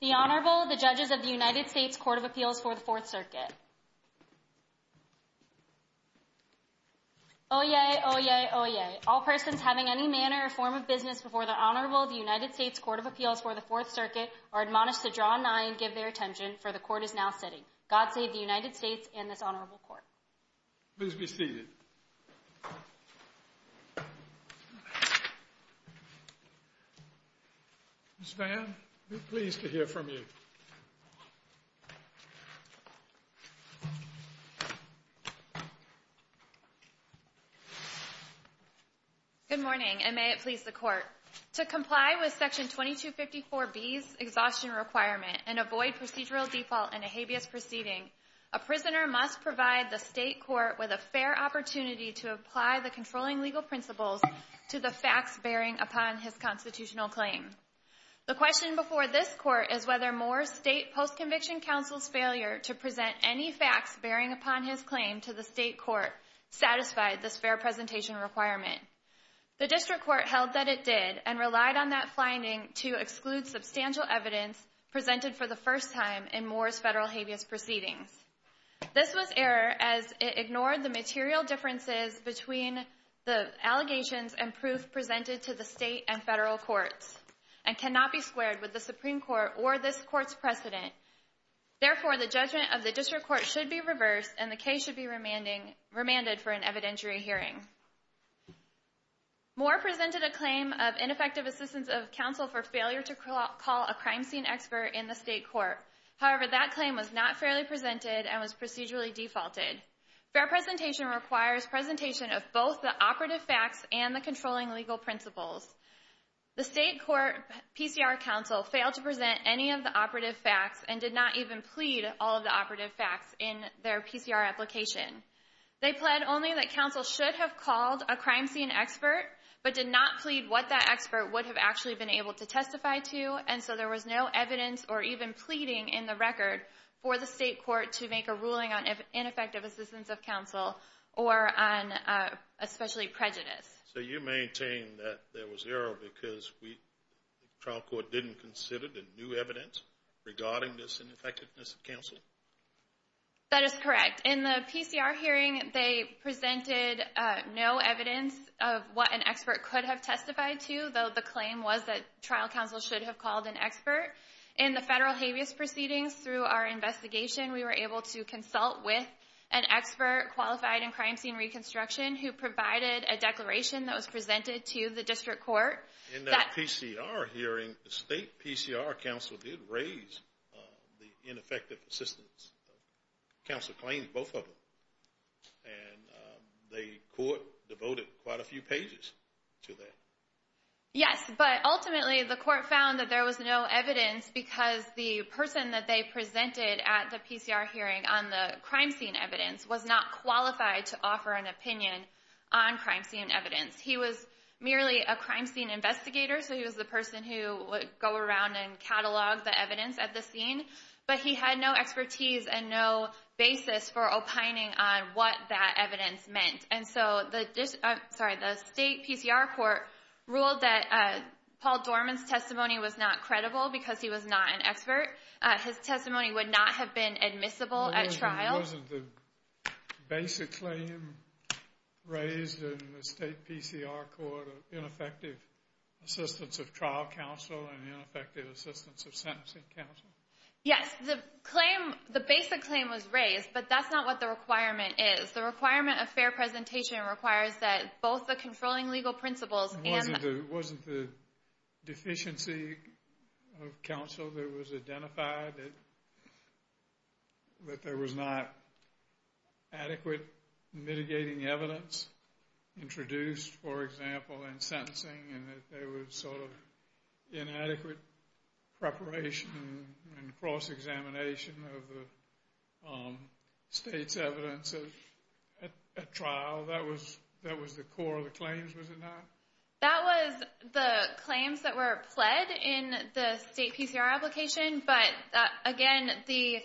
The Honorable, the Judges of the United States Court of Appeals for the Fourth Circuit. Oyez! Oyez! Oyez! All persons having any manner or form of business before the Honorable of the United States Court of Appeals for the Fourth Circuit are admonished to draw nigh and give their attention, for the Court is now sitting. God save the United States and this Honorable Court. Please be seated. Ms. Vann, we're pleased to hear from you. Good morning, and may it please the Court. To comply with Section 2254B's exhaustion requirement and avoid procedural default in a habeas proceeding, a prisoner must provide the state court with a fair opportunity to apply the controlling legal principles to the facts bearing upon his constitutional claim. The question before this Court is whether Moore's state post-conviction counsel's failure to present any facts bearing upon his claim to the state court satisfied this fair presentation requirement. The district court held that it did and relied on that finding to exclude substantial evidence presented for the first time in Moore's federal habeas proceedings. This was error as it ignored the material differences between the allegations and proof presented to the state and federal courts and cannot be squared with the Supreme Court or this Court's precedent. Therefore, the judgment of the district court should be reversed and the case should be remanded for an evidentiary hearing. Moore presented a claim of ineffective assistance of counsel for failure to call a crime scene expert in the state court. However, that claim was not fairly presented and was procedurally defaulted. Fair presentation requires presentation of both the operative facts and the controlling legal principles. The state court PCR counsel failed to present any of the operative facts and did not even plead all of the operative facts in their PCR application. They pled only that counsel should have called a crime scene expert but did not plead what that expert would have actually been able to testify to. And so there was no evidence or even pleading in the record for the state court to make a ruling on ineffective assistance of counsel or on especially prejudice. So you maintain that there was error because the trial court didn't consider the new evidence regarding this ineffectiveness of counsel? That is correct. In the PCR hearing, they presented no evidence of what an expert could have testified to, though the claim was that trial counsel should have called an expert. In the federal habeas proceedings, through our investigation, we were able to consult with an expert qualified in crime scene reconstruction who provided a declaration that was presented to the district court. In that PCR hearing, the state PCR counsel did raise the ineffective assistance of counsel claims, both of them, and the court devoted quite a few pages to that. Yes, but ultimately the court found that there was no evidence because the person that they presented at the PCR hearing on the crime scene evidence was not qualified to offer an opinion on crime scene evidence. He was merely a crime scene investigator, so he was the person who would go around and catalog the evidence at the scene. But he had no expertise and no basis for opining on what that evidence meant. And so the state PCR court ruled that Paul Dorman's testimony was not credible because he was not an expert. His testimony would not have been admissible at trial. Wasn't the basic claim raised in the state PCR court of ineffective assistance of trial counsel and ineffective assistance of sentencing counsel? Yes, the basic claim was raised, but that's not what the requirement is. The requirement of fair presentation requires that both the controlling legal principles and... Wasn't the deficiency of counsel that was identified that there was not adequate mitigating evidence introduced, for example, in sentencing? And that there was sort of inadequate preparation and cross-examination of the state's evidence at trial? That was the core of the claims, was it not? That was the claims that were pled in the state PCR application, but again, the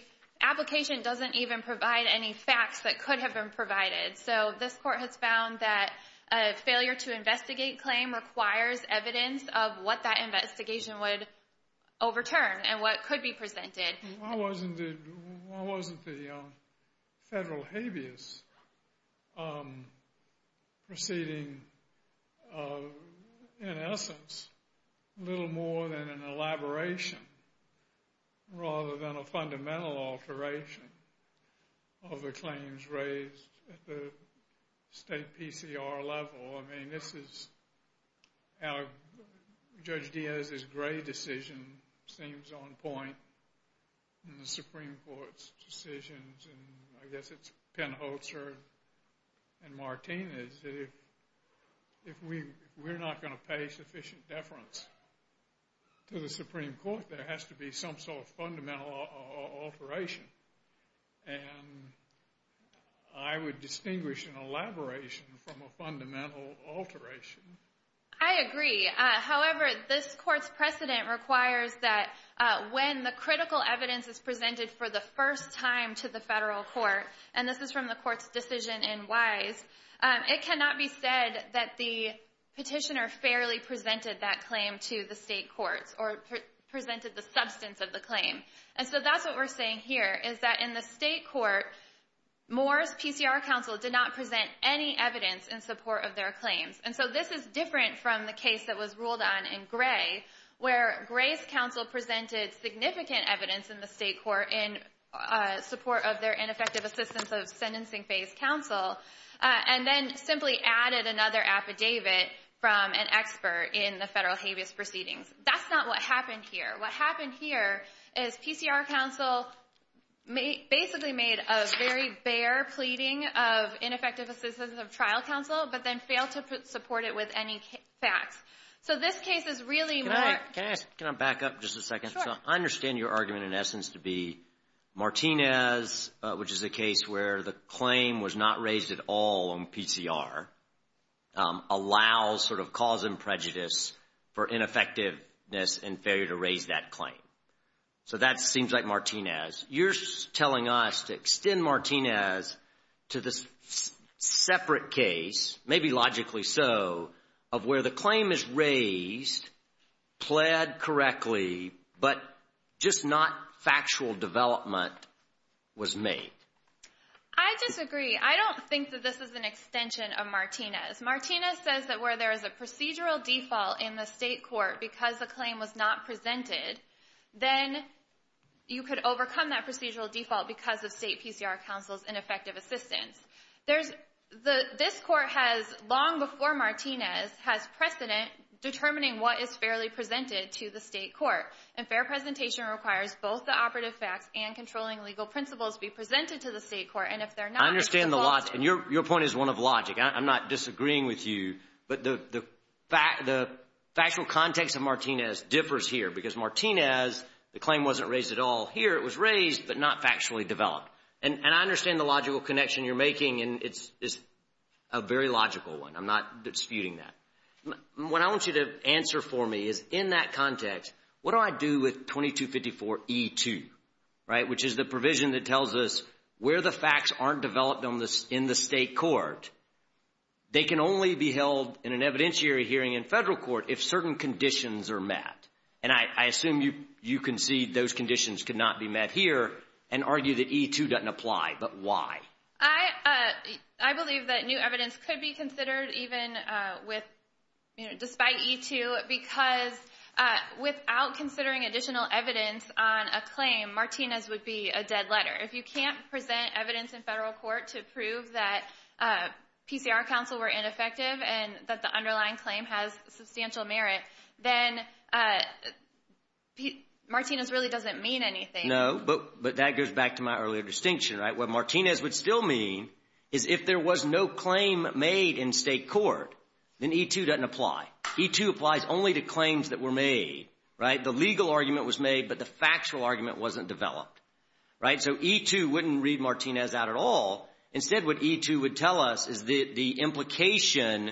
application doesn't even provide any facts that could have been provided. So this court has found that a failure to investigate claim requires evidence of what that investigation would overturn and what could be presented. Why wasn't the federal habeas proceeding, in essence, little more than an elaboration rather than a fundamental alteration of the claims raised at the state PCR level? Well, I mean, this is how Judge Diaz's Gray decision seems on point in the Supreme Court's decisions, and I guess it's Pen Holzer and Martinez, that if we're not going to pay sufficient deference to the Supreme Court, there has to be some sort of fundamental alteration. And I would distinguish an elaboration from a fundamental alteration. I agree. However, this court's precedent requires that when the critical evidence is presented for the first time to the federal court, and this is from the court's decision in Wise, it cannot be said that the petitioner fairly presented that claim to the state courts or presented the substance of the claim. And so that's what we're saying here, is that in the state court, Moore's PCR counsel did not present any evidence in support of their claims. And so this is different from the case that was ruled on in Gray, where Gray's counsel presented significant evidence in the state court in support of their ineffective assistance of sentencing phase counsel, and then simply added another affidavit from an expert in the federal habeas proceedings. That's not what happened here. What happened here is PCR counsel basically made a very bare pleading of ineffective assistance of trial counsel, but then failed to support it with any facts. So this case is really more. Can I back up just a second? I understand your argument in essence to be Martinez, which is a case where the claim was not raised at all on PCR, allows sort of cause and prejudice for ineffectiveness and failure to raise that claim. So that seems like Martinez. You're telling us to extend Martinez to this separate case, maybe logically so, of where the claim is raised, pled correctly, but just not factual development was made. I disagree. I don't think that this is an extension of Martinez. Martinez says that where there is a procedural default in the state court because the claim was not presented, then you could overcome that procedural default because of state PCR counsel's ineffective assistance. There's the this court has long before Martinez has precedent determining what is fairly presented to the state court. And fair presentation requires both the operative facts and controlling legal principles be presented to the state court. I understand the logic. Your point is one of logic. I'm not disagreeing with you. But the factual context of Martinez differs here because Martinez, the claim wasn't raised at all here. It was raised, but not factually developed. And I understand the logical connection you're making. And it's a very logical one. I'm not disputing that. What I want you to answer for me is in that context, what do I do with 2254E2? Right. Which is the provision that tells us where the facts aren't developed in the state court. They can only be held in an evidentiary hearing in federal court if certain conditions are met. And I assume you concede those conditions could not be met here and argue that E2 doesn't apply. But why? I believe that new evidence could be considered even with despite E2, because without considering additional evidence on a claim, Martinez would be a dead letter. If you can't present evidence in federal court to prove that PCR counsel were ineffective and that the underlying claim has substantial merit, then Martinez really doesn't mean anything. No, but that goes back to my earlier distinction. What Martinez would still mean is if there was no claim made in state court, then E2 doesn't apply. E2 applies only to claims that were made. The legal argument was made, but the factual argument wasn't developed. So E2 wouldn't read Martinez out at all. That implication is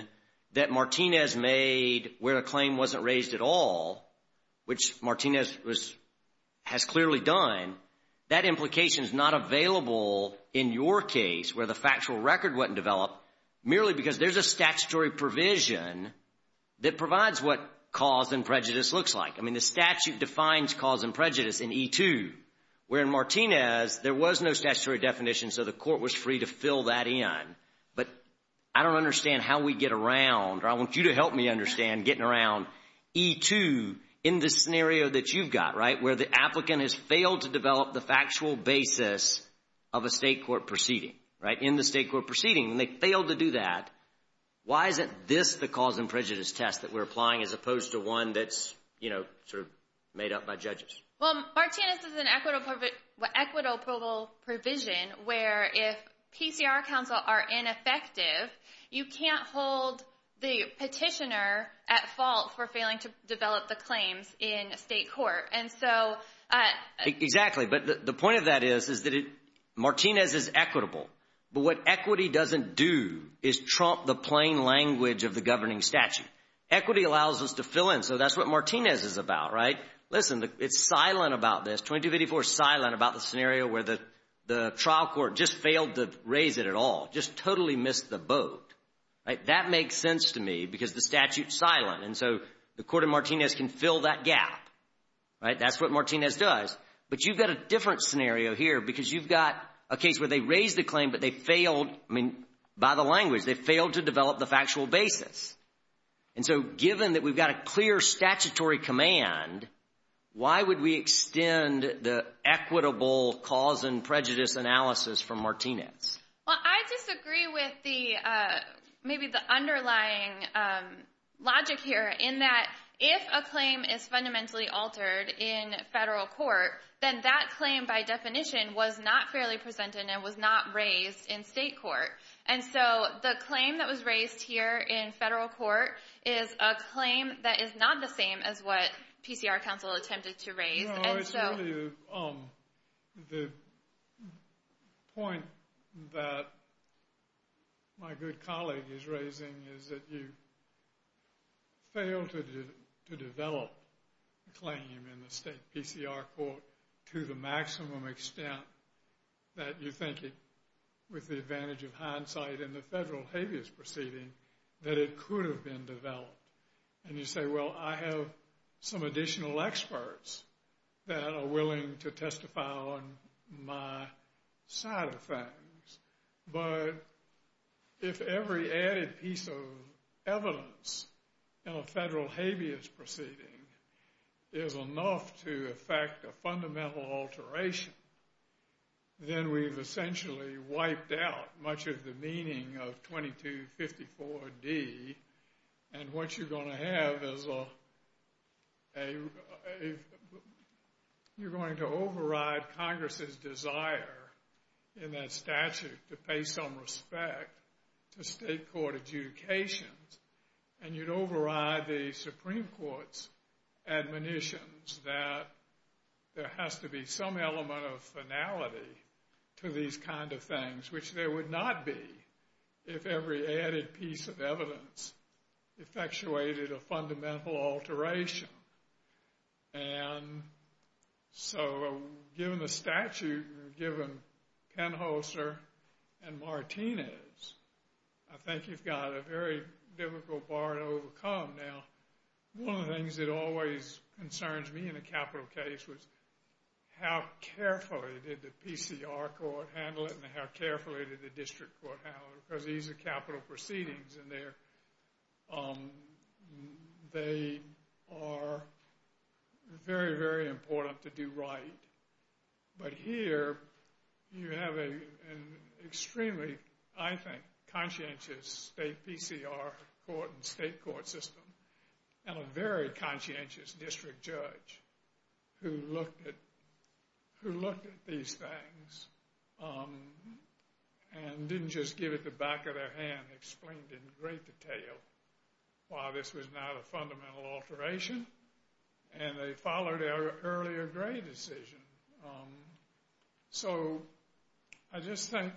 not available in your case where the factual record wasn't developed merely because there's a statutory provision that provides what cause and prejudice looks like. I mean, the statute defines cause and prejudice in E2, where in Martinez there was no statutory definition, so the court was free to fill that in. But I don't understand how we get around, or I want you to help me understand getting around E2 in this scenario that you've got, right? Where the applicant has failed to develop the factual basis of a state court proceeding, right? In the state court proceeding, they failed to do that. Why isn't this the cause and prejudice test that we're applying as opposed to one that's, you know, sort of made up by judges? Well, Martinez is an equitable provision where if PCR counts are ineffective, you can't hold the petitioner at fault for failing to develop the claims in state court. Exactly, but the point of that is that Martinez is equitable, but what equity doesn't do is trump the plain language of the governing statute. Equity allows us to fill in, so that's what Martinez is about, right? Listen, it's silent about this, 2254 is silent about the scenario where the trial court just failed to raise it at all, just totally missed the boat, right? That makes sense to me because the statute is silent, and so the court in Martinez can fill that gap, right? That's what Martinez does, but you've got a different scenario here because you've got a case where they raised the claim, but they failed, I mean, by the language. They failed to develop the factual basis, and so given that we've got a clear statutory command, why would we extend the equitable cause and prejudice analysis from Martinez? Well, I disagree with maybe the underlying logic here in that if a claim is fundamentally altered in federal court, then that claim by definition was not fairly presented and was not raised in state court. And so the claim that was raised here in federal court is a claim that is not the same as what PCR counsel attempted to raise. No, it's really the point that my good colleague is raising is that you fail to develop a claim in the state PCR court to the maximum extent that you think it, with the advantage of hindsight in the federal habeas proceeding, that it could have been developed. And you say, well, I have some additional experts that are willing to testify on my side of things, but if every added piece of evidence in a federal habeas proceeding is enough to affect a fundamental alteration, then we've essentially wiped out much of the meaning of 2254D, and what you're going to have is a, you're going to override Congress's desire in that statute to pay some respect to state court adjudications, and you'd override the Supreme Court's admonitions that there has to be some element of finality to these kind of things, which there would not be if every added piece of evidence effectuated a fundamental alteration. And so, given the statute, given Penholster and Martinez, I think you've got a very difficult bar to overcome. Now, one of the things that always concerns me in a capital case was how carefully did the PCR court handle it and how carefully did the district court handle it, because these are capital proceedings, and they are very, very important to do right. But here, you have an extremely, I think, conscientious state PCR court and state court system and a very conscientious district judge who looked at these things and didn't just give it the back of their hand, and explained in great detail why this was not a fundamental alteration, and they followed their earlier grade decision. So, I just think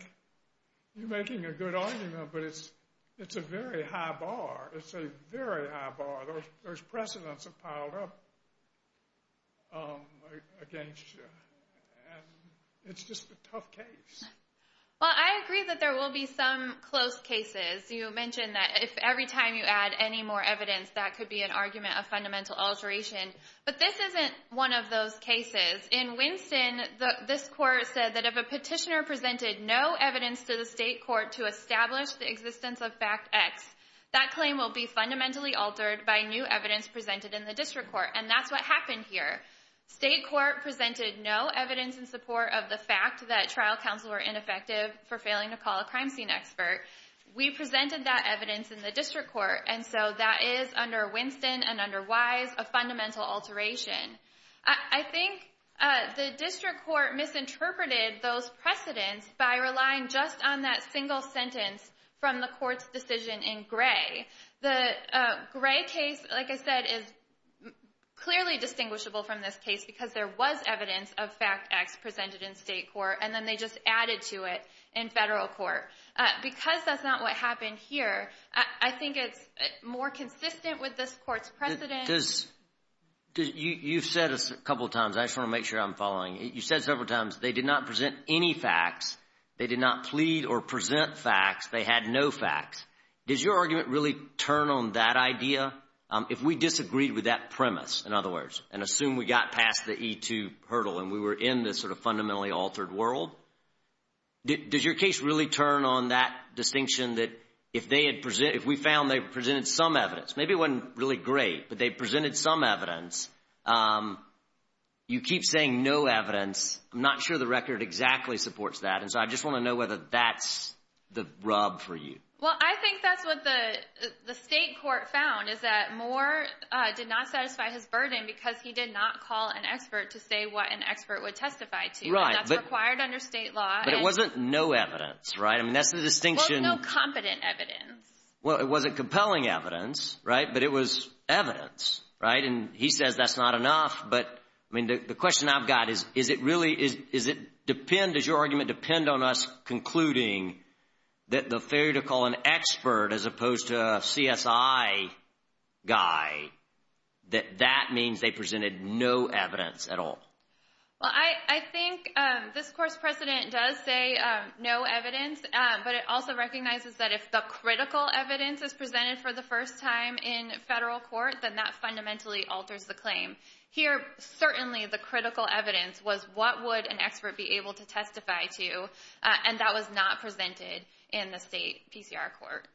you're making a good argument, but it's a very high bar. It's a very high bar. Those precedents have piled up against you, and it's just a tough case. Well, I agree that there will be some close cases. You mentioned that if every time you add any more evidence, that could be an argument of fundamental alteration, but this isn't one of those cases. In Winston, this court said that if a petitioner presented no evidence to the state court to establish the existence of fact X, that claim will be fundamentally altered by new evidence presented in the district court, and that's what happened here. State court presented no evidence in support of the fact that trial counsel were ineffective for failing to call a crime scene expert. We presented that evidence in the district court, and so that is, under Winston and under Wise, a fundamental alteration. I think the district court misinterpreted those precedents by relying just on that single sentence from the court's decision in Gray. The Gray case, like I said, is clearly distinguishable from this case because there was evidence of fact X presented in state court, and then they just added to it in federal court. Because that's not what happened here, I think it's more consistent with this court's precedent. You've said a couple of times. I just want to make sure I'm following. You said several times they did not present any facts. They did not plead or present facts. They had no facts. Does your argument really turn on that idea? If we disagreed with that premise, in other words, and assume we got past the E-2 hurdle and we were in this sort of fundamentally altered world, does your case really turn on that distinction that if we found they presented some evidence, maybe it wasn't really great, but they presented some evidence, you keep saying no evidence. I'm not sure the record exactly supports that, and so I just want to know whether that's the rub for you. Well, I think that's what the state court found is that Moore did not satisfy his burden because he did not call an expert to say what an expert would testify to. Right. That's required under state law. But it wasn't no evidence, right? I mean, that's the distinction. Well, it's no competent evidence. Well, it wasn't compelling evidence, right? But it was evidence, right? And he says that's not enough, but, I mean, the question I've got is, does your argument depend on us concluding that the failure to call an expert as opposed to a CSI guy, that that means they presented no evidence at all? Well, I think this course precedent does say no evidence, but it also recognizes that if the critical evidence is presented for the first time in federal court, then that fundamentally alters the claim. Here, certainly the critical evidence was what would an expert be able to testify to, and that was not presented in the state PCR court.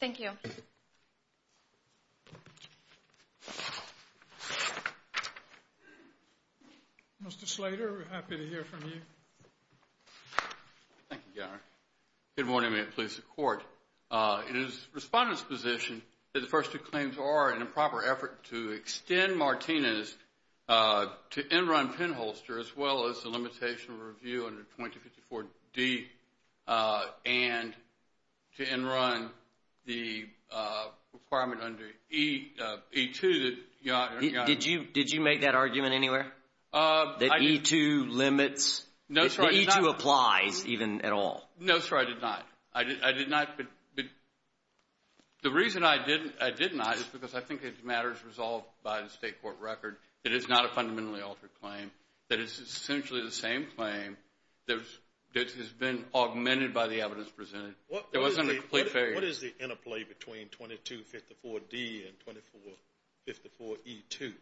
Thank you. Mr. Slater, we're happy to hear from you. Thank you, Your Honor. Good morning. May it please the Court. It is the Respondent's position that the first two claims are an improper effort to extend Martinez to end-run penholster as well as the limitation review under 2054D and to end-run the requirement under E2. Did you make that argument anywhere, that E2 limits, that E2 applies even at all? No, sir, I did not. I did not, but the reason I did not is because I think it matters resolved by the state court record that it's not a fundamentally altered claim, that it's essentially the same claim that has been augmented by the evidence presented. There wasn't a complete failure. What is the interplay between 2254D and 2454E2?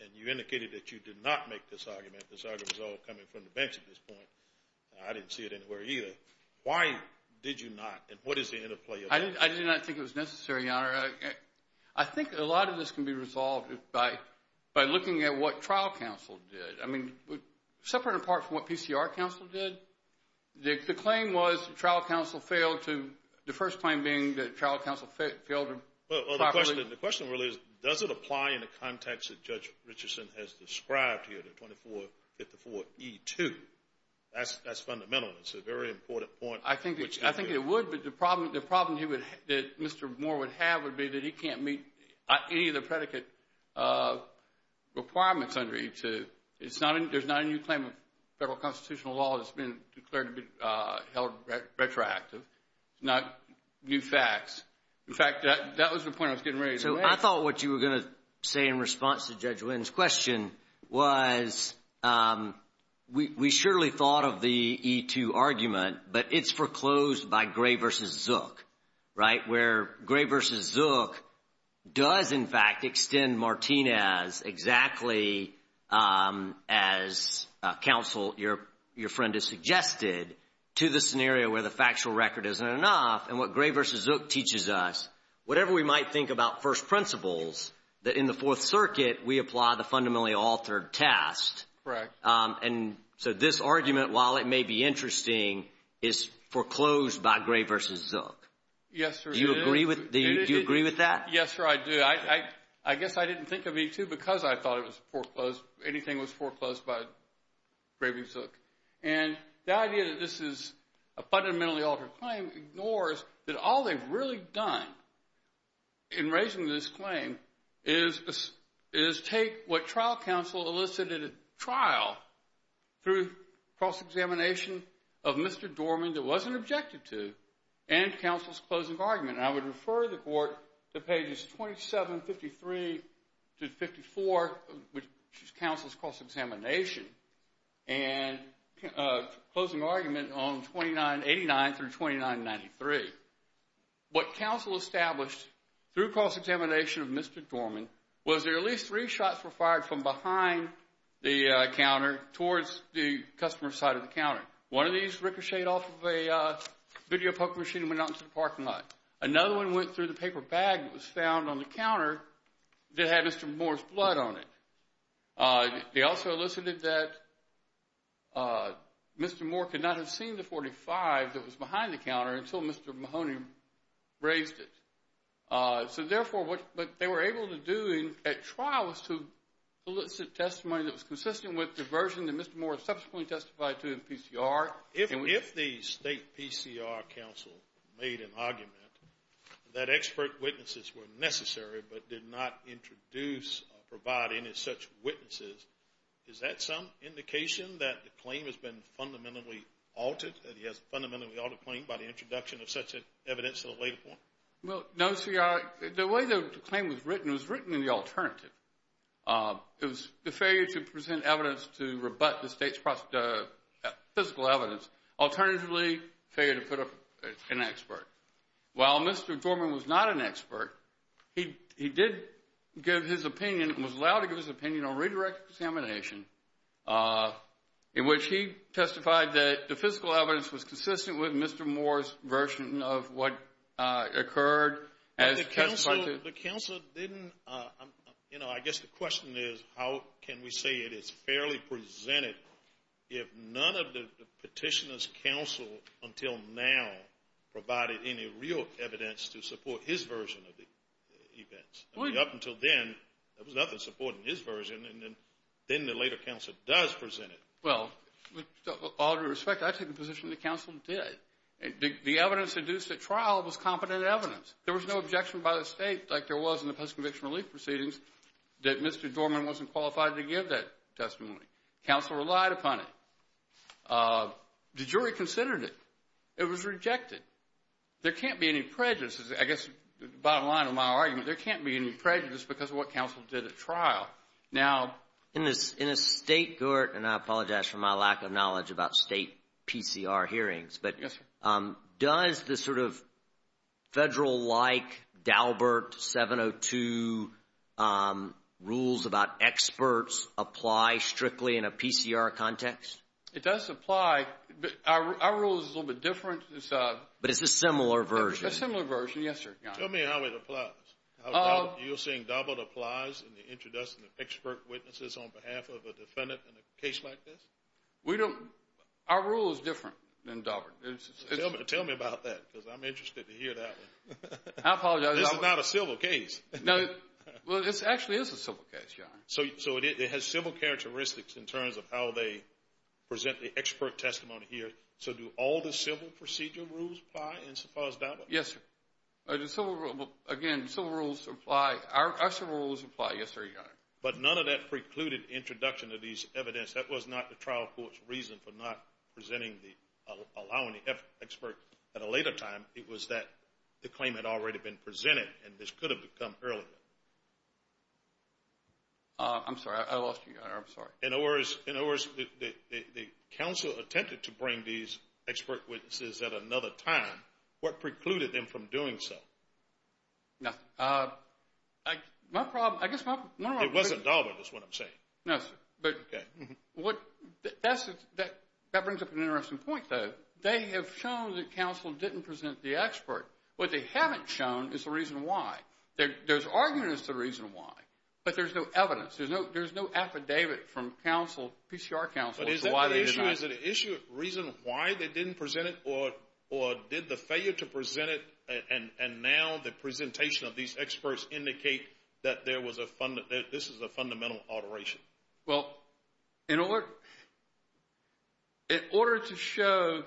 And you indicated that you did not make this argument. This argument was all coming from the bench at this point. I didn't see it anywhere either. Why did you not, and what is the interplay of that? I did not think it was necessary, Your Honor. I think a lot of this can be resolved by looking at what trial counsel did. Separate and apart from what PCR counsel did, the claim was trial counsel failed to, the first claim being that trial counsel failed to properly The question really is, does it apply in the context that Judge Richardson has described here, the 2454E2? That's fundamental. It's a very important point. I think it would, but the problem that Mr. Moore would have would be that he can't meet any of the predicate requirements under E2. There's not a new claim of federal constitutional law that's been declared to be held retroactive. There's not new facts. In fact, that was the point I was getting ready to make. I thought what you were going to say in response to Judge Wynn's question was we surely thought of the E2 argument, but it's foreclosed by Gray v. Zook. Where Gray v. Zook does, in fact, extend Martinez exactly as counsel, your friend has suggested, to the scenario where the factual record isn't enough. And what Gray v. Zook teaches us, whatever we might think about first principles, that in the Fourth Circuit, we apply the fundamentally altered test. Correct. And so this argument, while it may be interesting, is foreclosed by Gray v. Zook. Yes, sir. Do you agree with that? Yes, sir, I do. I guess I didn't think of E2 because I thought it was foreclosed, anything was foreclosed by Gray v. Zook. And the idea that this is a fundamentally altered claim ignores that all they've really done in raising this claim is take what trial counsel elicited at trial through cross-examination of Mr. Dorman that wasn't objected to and counsel's closing argument. And I would refer the court to pages 2753 to 54, which is counsel's cross-examination, and closing argument on 2989 through 2993. What counsel established through cross-examination of Mr. Dorman was that at least three shots were fired from behind the counter towards the customer side of the counter. One of these ricocheted off of a video poker machine and went out into the parking lot. Another one went through the paper bag that was found on the counter that had Mr. Moore's blood on it. They also elicited that Mr. Moore could not have seen the .45 that was behind the counter until Mr. Mahoney raised it. So, therefore, what they were able to do at trial was to elicit testimony that was consistent with the version that Mr. Moore subsequently testified to in PCR. If the state PCR counsel made an argument that expert witnesses were necessary but did not introduce or provide any such witnesses, is that some indication that the claim has been fundamentally altered, that he has a fundamentally altered claim by the introduction of such evidence at a later point? Well, no, CR. The way the claim was written was written in the alternative. It was the failure to present evidence to rebut the state's physical evidence. Alternatively, failure to put up an expert. While Mr. Dorman was not an expert, he did give his opinion and was allowed to give his opinion on redirected examination, in which he testified that the physical evidence was consistent with Mr. Moore's version of what occurred as testified to. But the counsel didn't, you know, I guess the question is how can we say it is fairly presented if none of the petitioner's counsel until now provided any real evidence to support his version of the events? I mean, up until then, there was nothing supporting his version, and then the later counsel does present it. Well, with all due respect, I take the position the counsel did. The evidence induced at trial was competent evidence. There was no objection by the state like there was in the post-conviction relief proceedings that Mr. Dorman wasn't qualified to give that testimony. Counsel relied upon it. The jury considered it. It was rejected. There can't be any prejudices. I guess the bottom line of my argument, there can't be any prejudice because of what counsel did at trial. Now, in a state court, and I apologize for my lack of knowledge about state PCR hearings, but does the sort of federal-like Daubert 702 rules about experts apply strictly in a PCR context? It does apply. Our rule is a little bit different. But it's a similar version. It's a similar version. Yes, sir, Your Honor. Tell me how it applies. You're saying Daubert applies in the introduction of expert witnesses on behalf of a defendant in a case like this? Our rule is different than Daubert. Tell me about that because I'm interested to hear that one. I apologize. This is not a civil case. No. Well, it actually is a civil case, Your Honor. So it has civil characteristics in terms of how they present the expert testimony here. So do all the civil procedural rules apply as far as Daubert? Yes, sir. Again, civil rules apply. Our civil rules apply. Yes, sir, Your Honor. But none of that precluded introduction of these evidence. That was not the trial court's reason for not presenting the allowing the expert at a later time. It was that the claim had already been presented, and this could have come earlier. I'm sorry. I lost you, Your Honor. I'm sorry. In other words, the counsel attempted to bring these expert witnesses at another time. What precluded them from doing so? Nothing. My problem, I guess my problem. It wasn't Daubert is what I'm saying. No, sir. Okay. That brings up an interesting point, though. They have shown that counsel didn't present the expert. What they haven't shown is the reason why. There's argument as to the reason why, but there's no evidence. There's no affidavit from counsel, PCR counsel, as to why they denied it. But is it an issue of reason why they didn't present it or did the failure to present it and now the presentation of these experts indicate that this is a fundamental alteration? Well, in order to show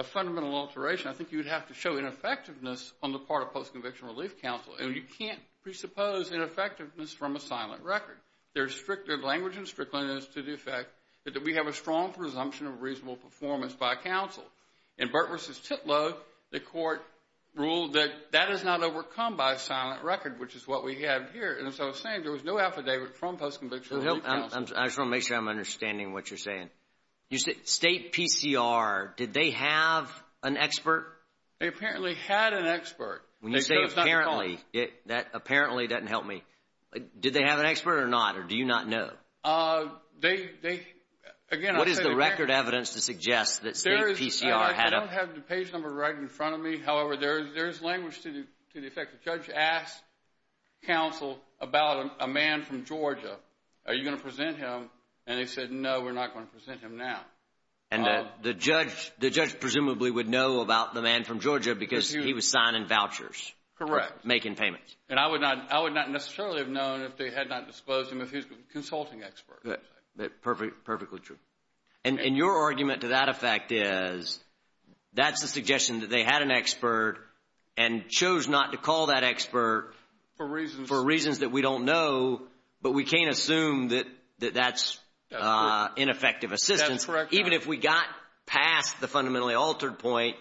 a fundamental alteration, I think you would have to show ineffectiveness on the part of post-conviction relief counsel. And you can't presuppose ineffectiveness from a silent record. The language in Strickland is to the effect that we have a strong presumption of reasonable performance by counsel. In Burt v. Titlow, the court ruled that that is not overcome by a silent record, which is what we have here. And as I was saying, there was no affidavit from post-conviction relief counsel. I just want to make sure I'm understanding what you're saying. State PCR, did they have an expert? They apparently had an expert. When you say apparently, that apparently doesn't help me. Did they have an expert or not, or do you not know? They, again, I said- What is the record evidence to suggest that state PCR had a- I don't have the page number right in front of me. However, there is language to the effect. The judge asked counsel about a man from Georgia. Are you going to present him? And they said, no, we're not going to present him now. And the judge presumably would know about the man from Georgia because he was signing vouchers. Correct. Making payments. And I would not necessarily have known if they had not disclosed him if he was a consulting expert. Perfectly true. And your argument to that effect is that's a suggestion that they had an expert and chose not to call that expert- For reasons- For reasons that we don't know, but we can't assume that that's ineffective assistance. Correct. Even if we got past the fundamentally altered point,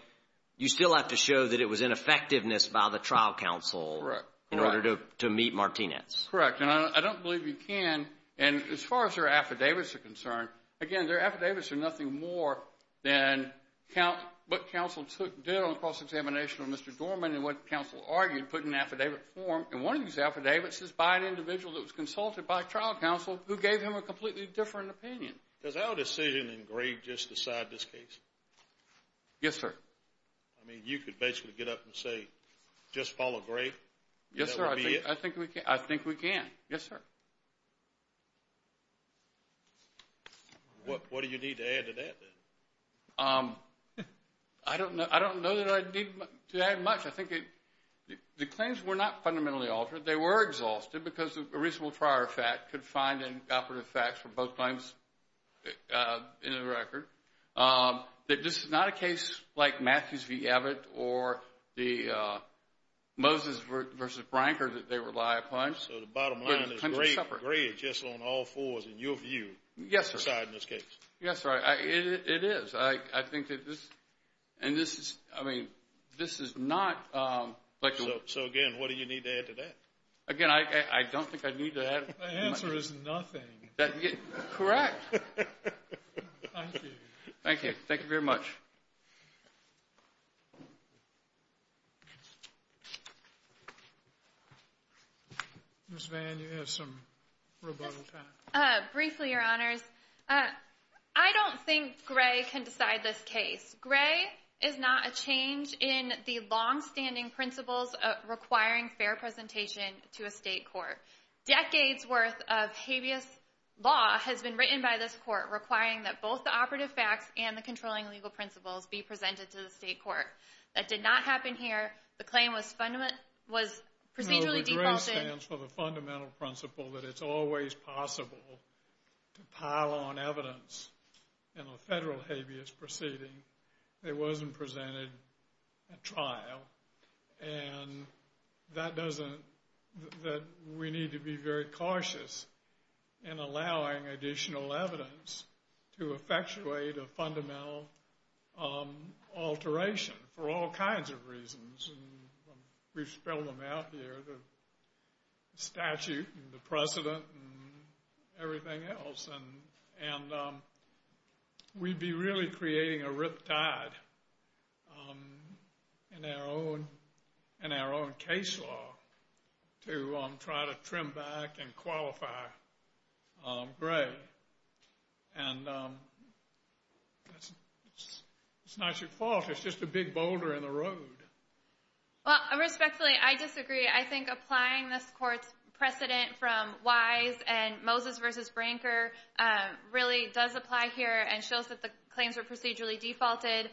you still have to show that it was ineffectiveness by the trial counsel- Correct. In order to meet Martinez. Correct. And I don't believe you can. And as far as their affidavits are concerned, again, their affidavits are nothing more than what counsel did on cross-examination on Mr. Dorman and what counsel argued, put in affidavit form. And one of these affidavits is by an individual that was consulted by trial counsel who gave him a completely different opinion. Does our decision in Gray just decide this case? Yes, sir. I mean, you could basically get up and say, just follow Gray and that would be it? Yes, sir. I think we can. Yes, sir. What do you need to add to that, then? I don't know that I need to add much. I think the claims were not fundamentally altered. They were exhausted because a reasonable prior fact could find in operative facts for both claims in the record. This is not a case like Matthews v. Abbott or the Moses v. Branker that they rely upon. So the bottom line is Gray is just on all fours in your view. Yes, sir. Deciding this case. Yes, sir. It is. I think that this, and this is, I mean, this is not- So, again, what do you need to add to that? Again, I don't think I need to add much. The answer is nothing. Correct. Thank you. Thank you. Thank you very much. Ms. Vann, you have some rebuttal time. Briefly, Your Honors, I don't think Gray can decide this case. Gray is not a change in the longstanding principles of requiring fair presentation to a state court. Decades' worth of habeas law has been written by this court requiring that both the operative facts and the controlling legal principles be presented to the state court. That did not happen here. The claim was procedurally defaulted- It wasn't presented at trial. And that doesn't- We need to be very cautious in allowing additional evidence to effectuate a fundamental alteration for all kinds of reasons. We've spelled them out here, the statute and the precedent and everything else. And we'd be really creating a riptide in our own case law to try to trim back and qualify Gray. And it's not your fault. It's just a big boulder in the road. Well, respectfully, I disagree. I think applying this court's precedent from Wise and Moses v. Branker really does apply here and shows that the claims were procedurally defaulted.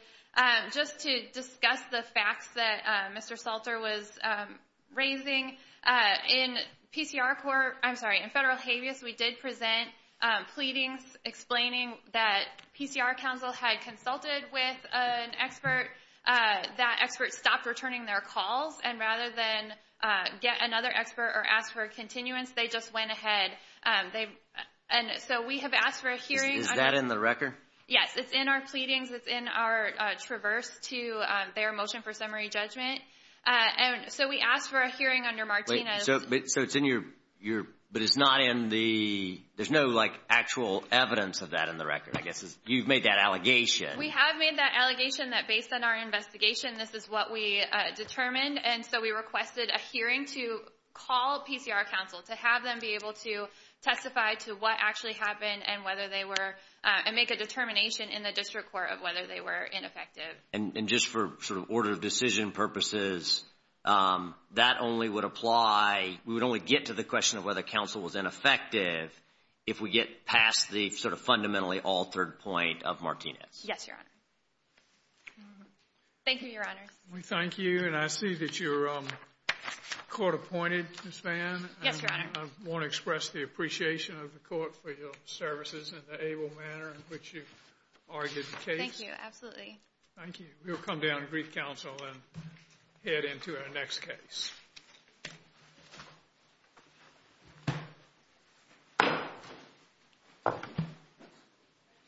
Just to discuss the facts that Mr. Salter was raising, in federal habeas, we did present pleadings explaining that PCR counsel had consulted with an expert. That expert stopped returning their calls. And rather than get another expert or ask for a continuance, they just went ahead. And so we have asked for a hearing- Is that in the record? Yes, it's in our pleadings. It's in our traverse to their motion for summary judgment. And so we asked for a hearing under Martinez. So it's in your- but it's not in the- there's no, like, actual evidence of that in the record, I guess. You've made that allegation. We have made that allegation that based on our investigation, this is what we determined. And so we requested a hearing to call PCR counsel to have them be able to testify to what actually happened and whether they were- and make a determination in the district court of whether they were ineffective. And just for sort of order of decision purposes, that only would apply- we would only get to the question of whether counsel was ineffective if we get past the sort of fundamentally altered point of Martinez. Yes, Your Honor. Thank you, Your Honors. We thank you. And I see that you're court-appointed, Ms. Vann. Yes, Your Honor. I want to express the appreciation of the court for your services and the able manner in which you argued the case. Thank you. Absolutely. Thank you. We'll come down to brief counsel and head into our next case.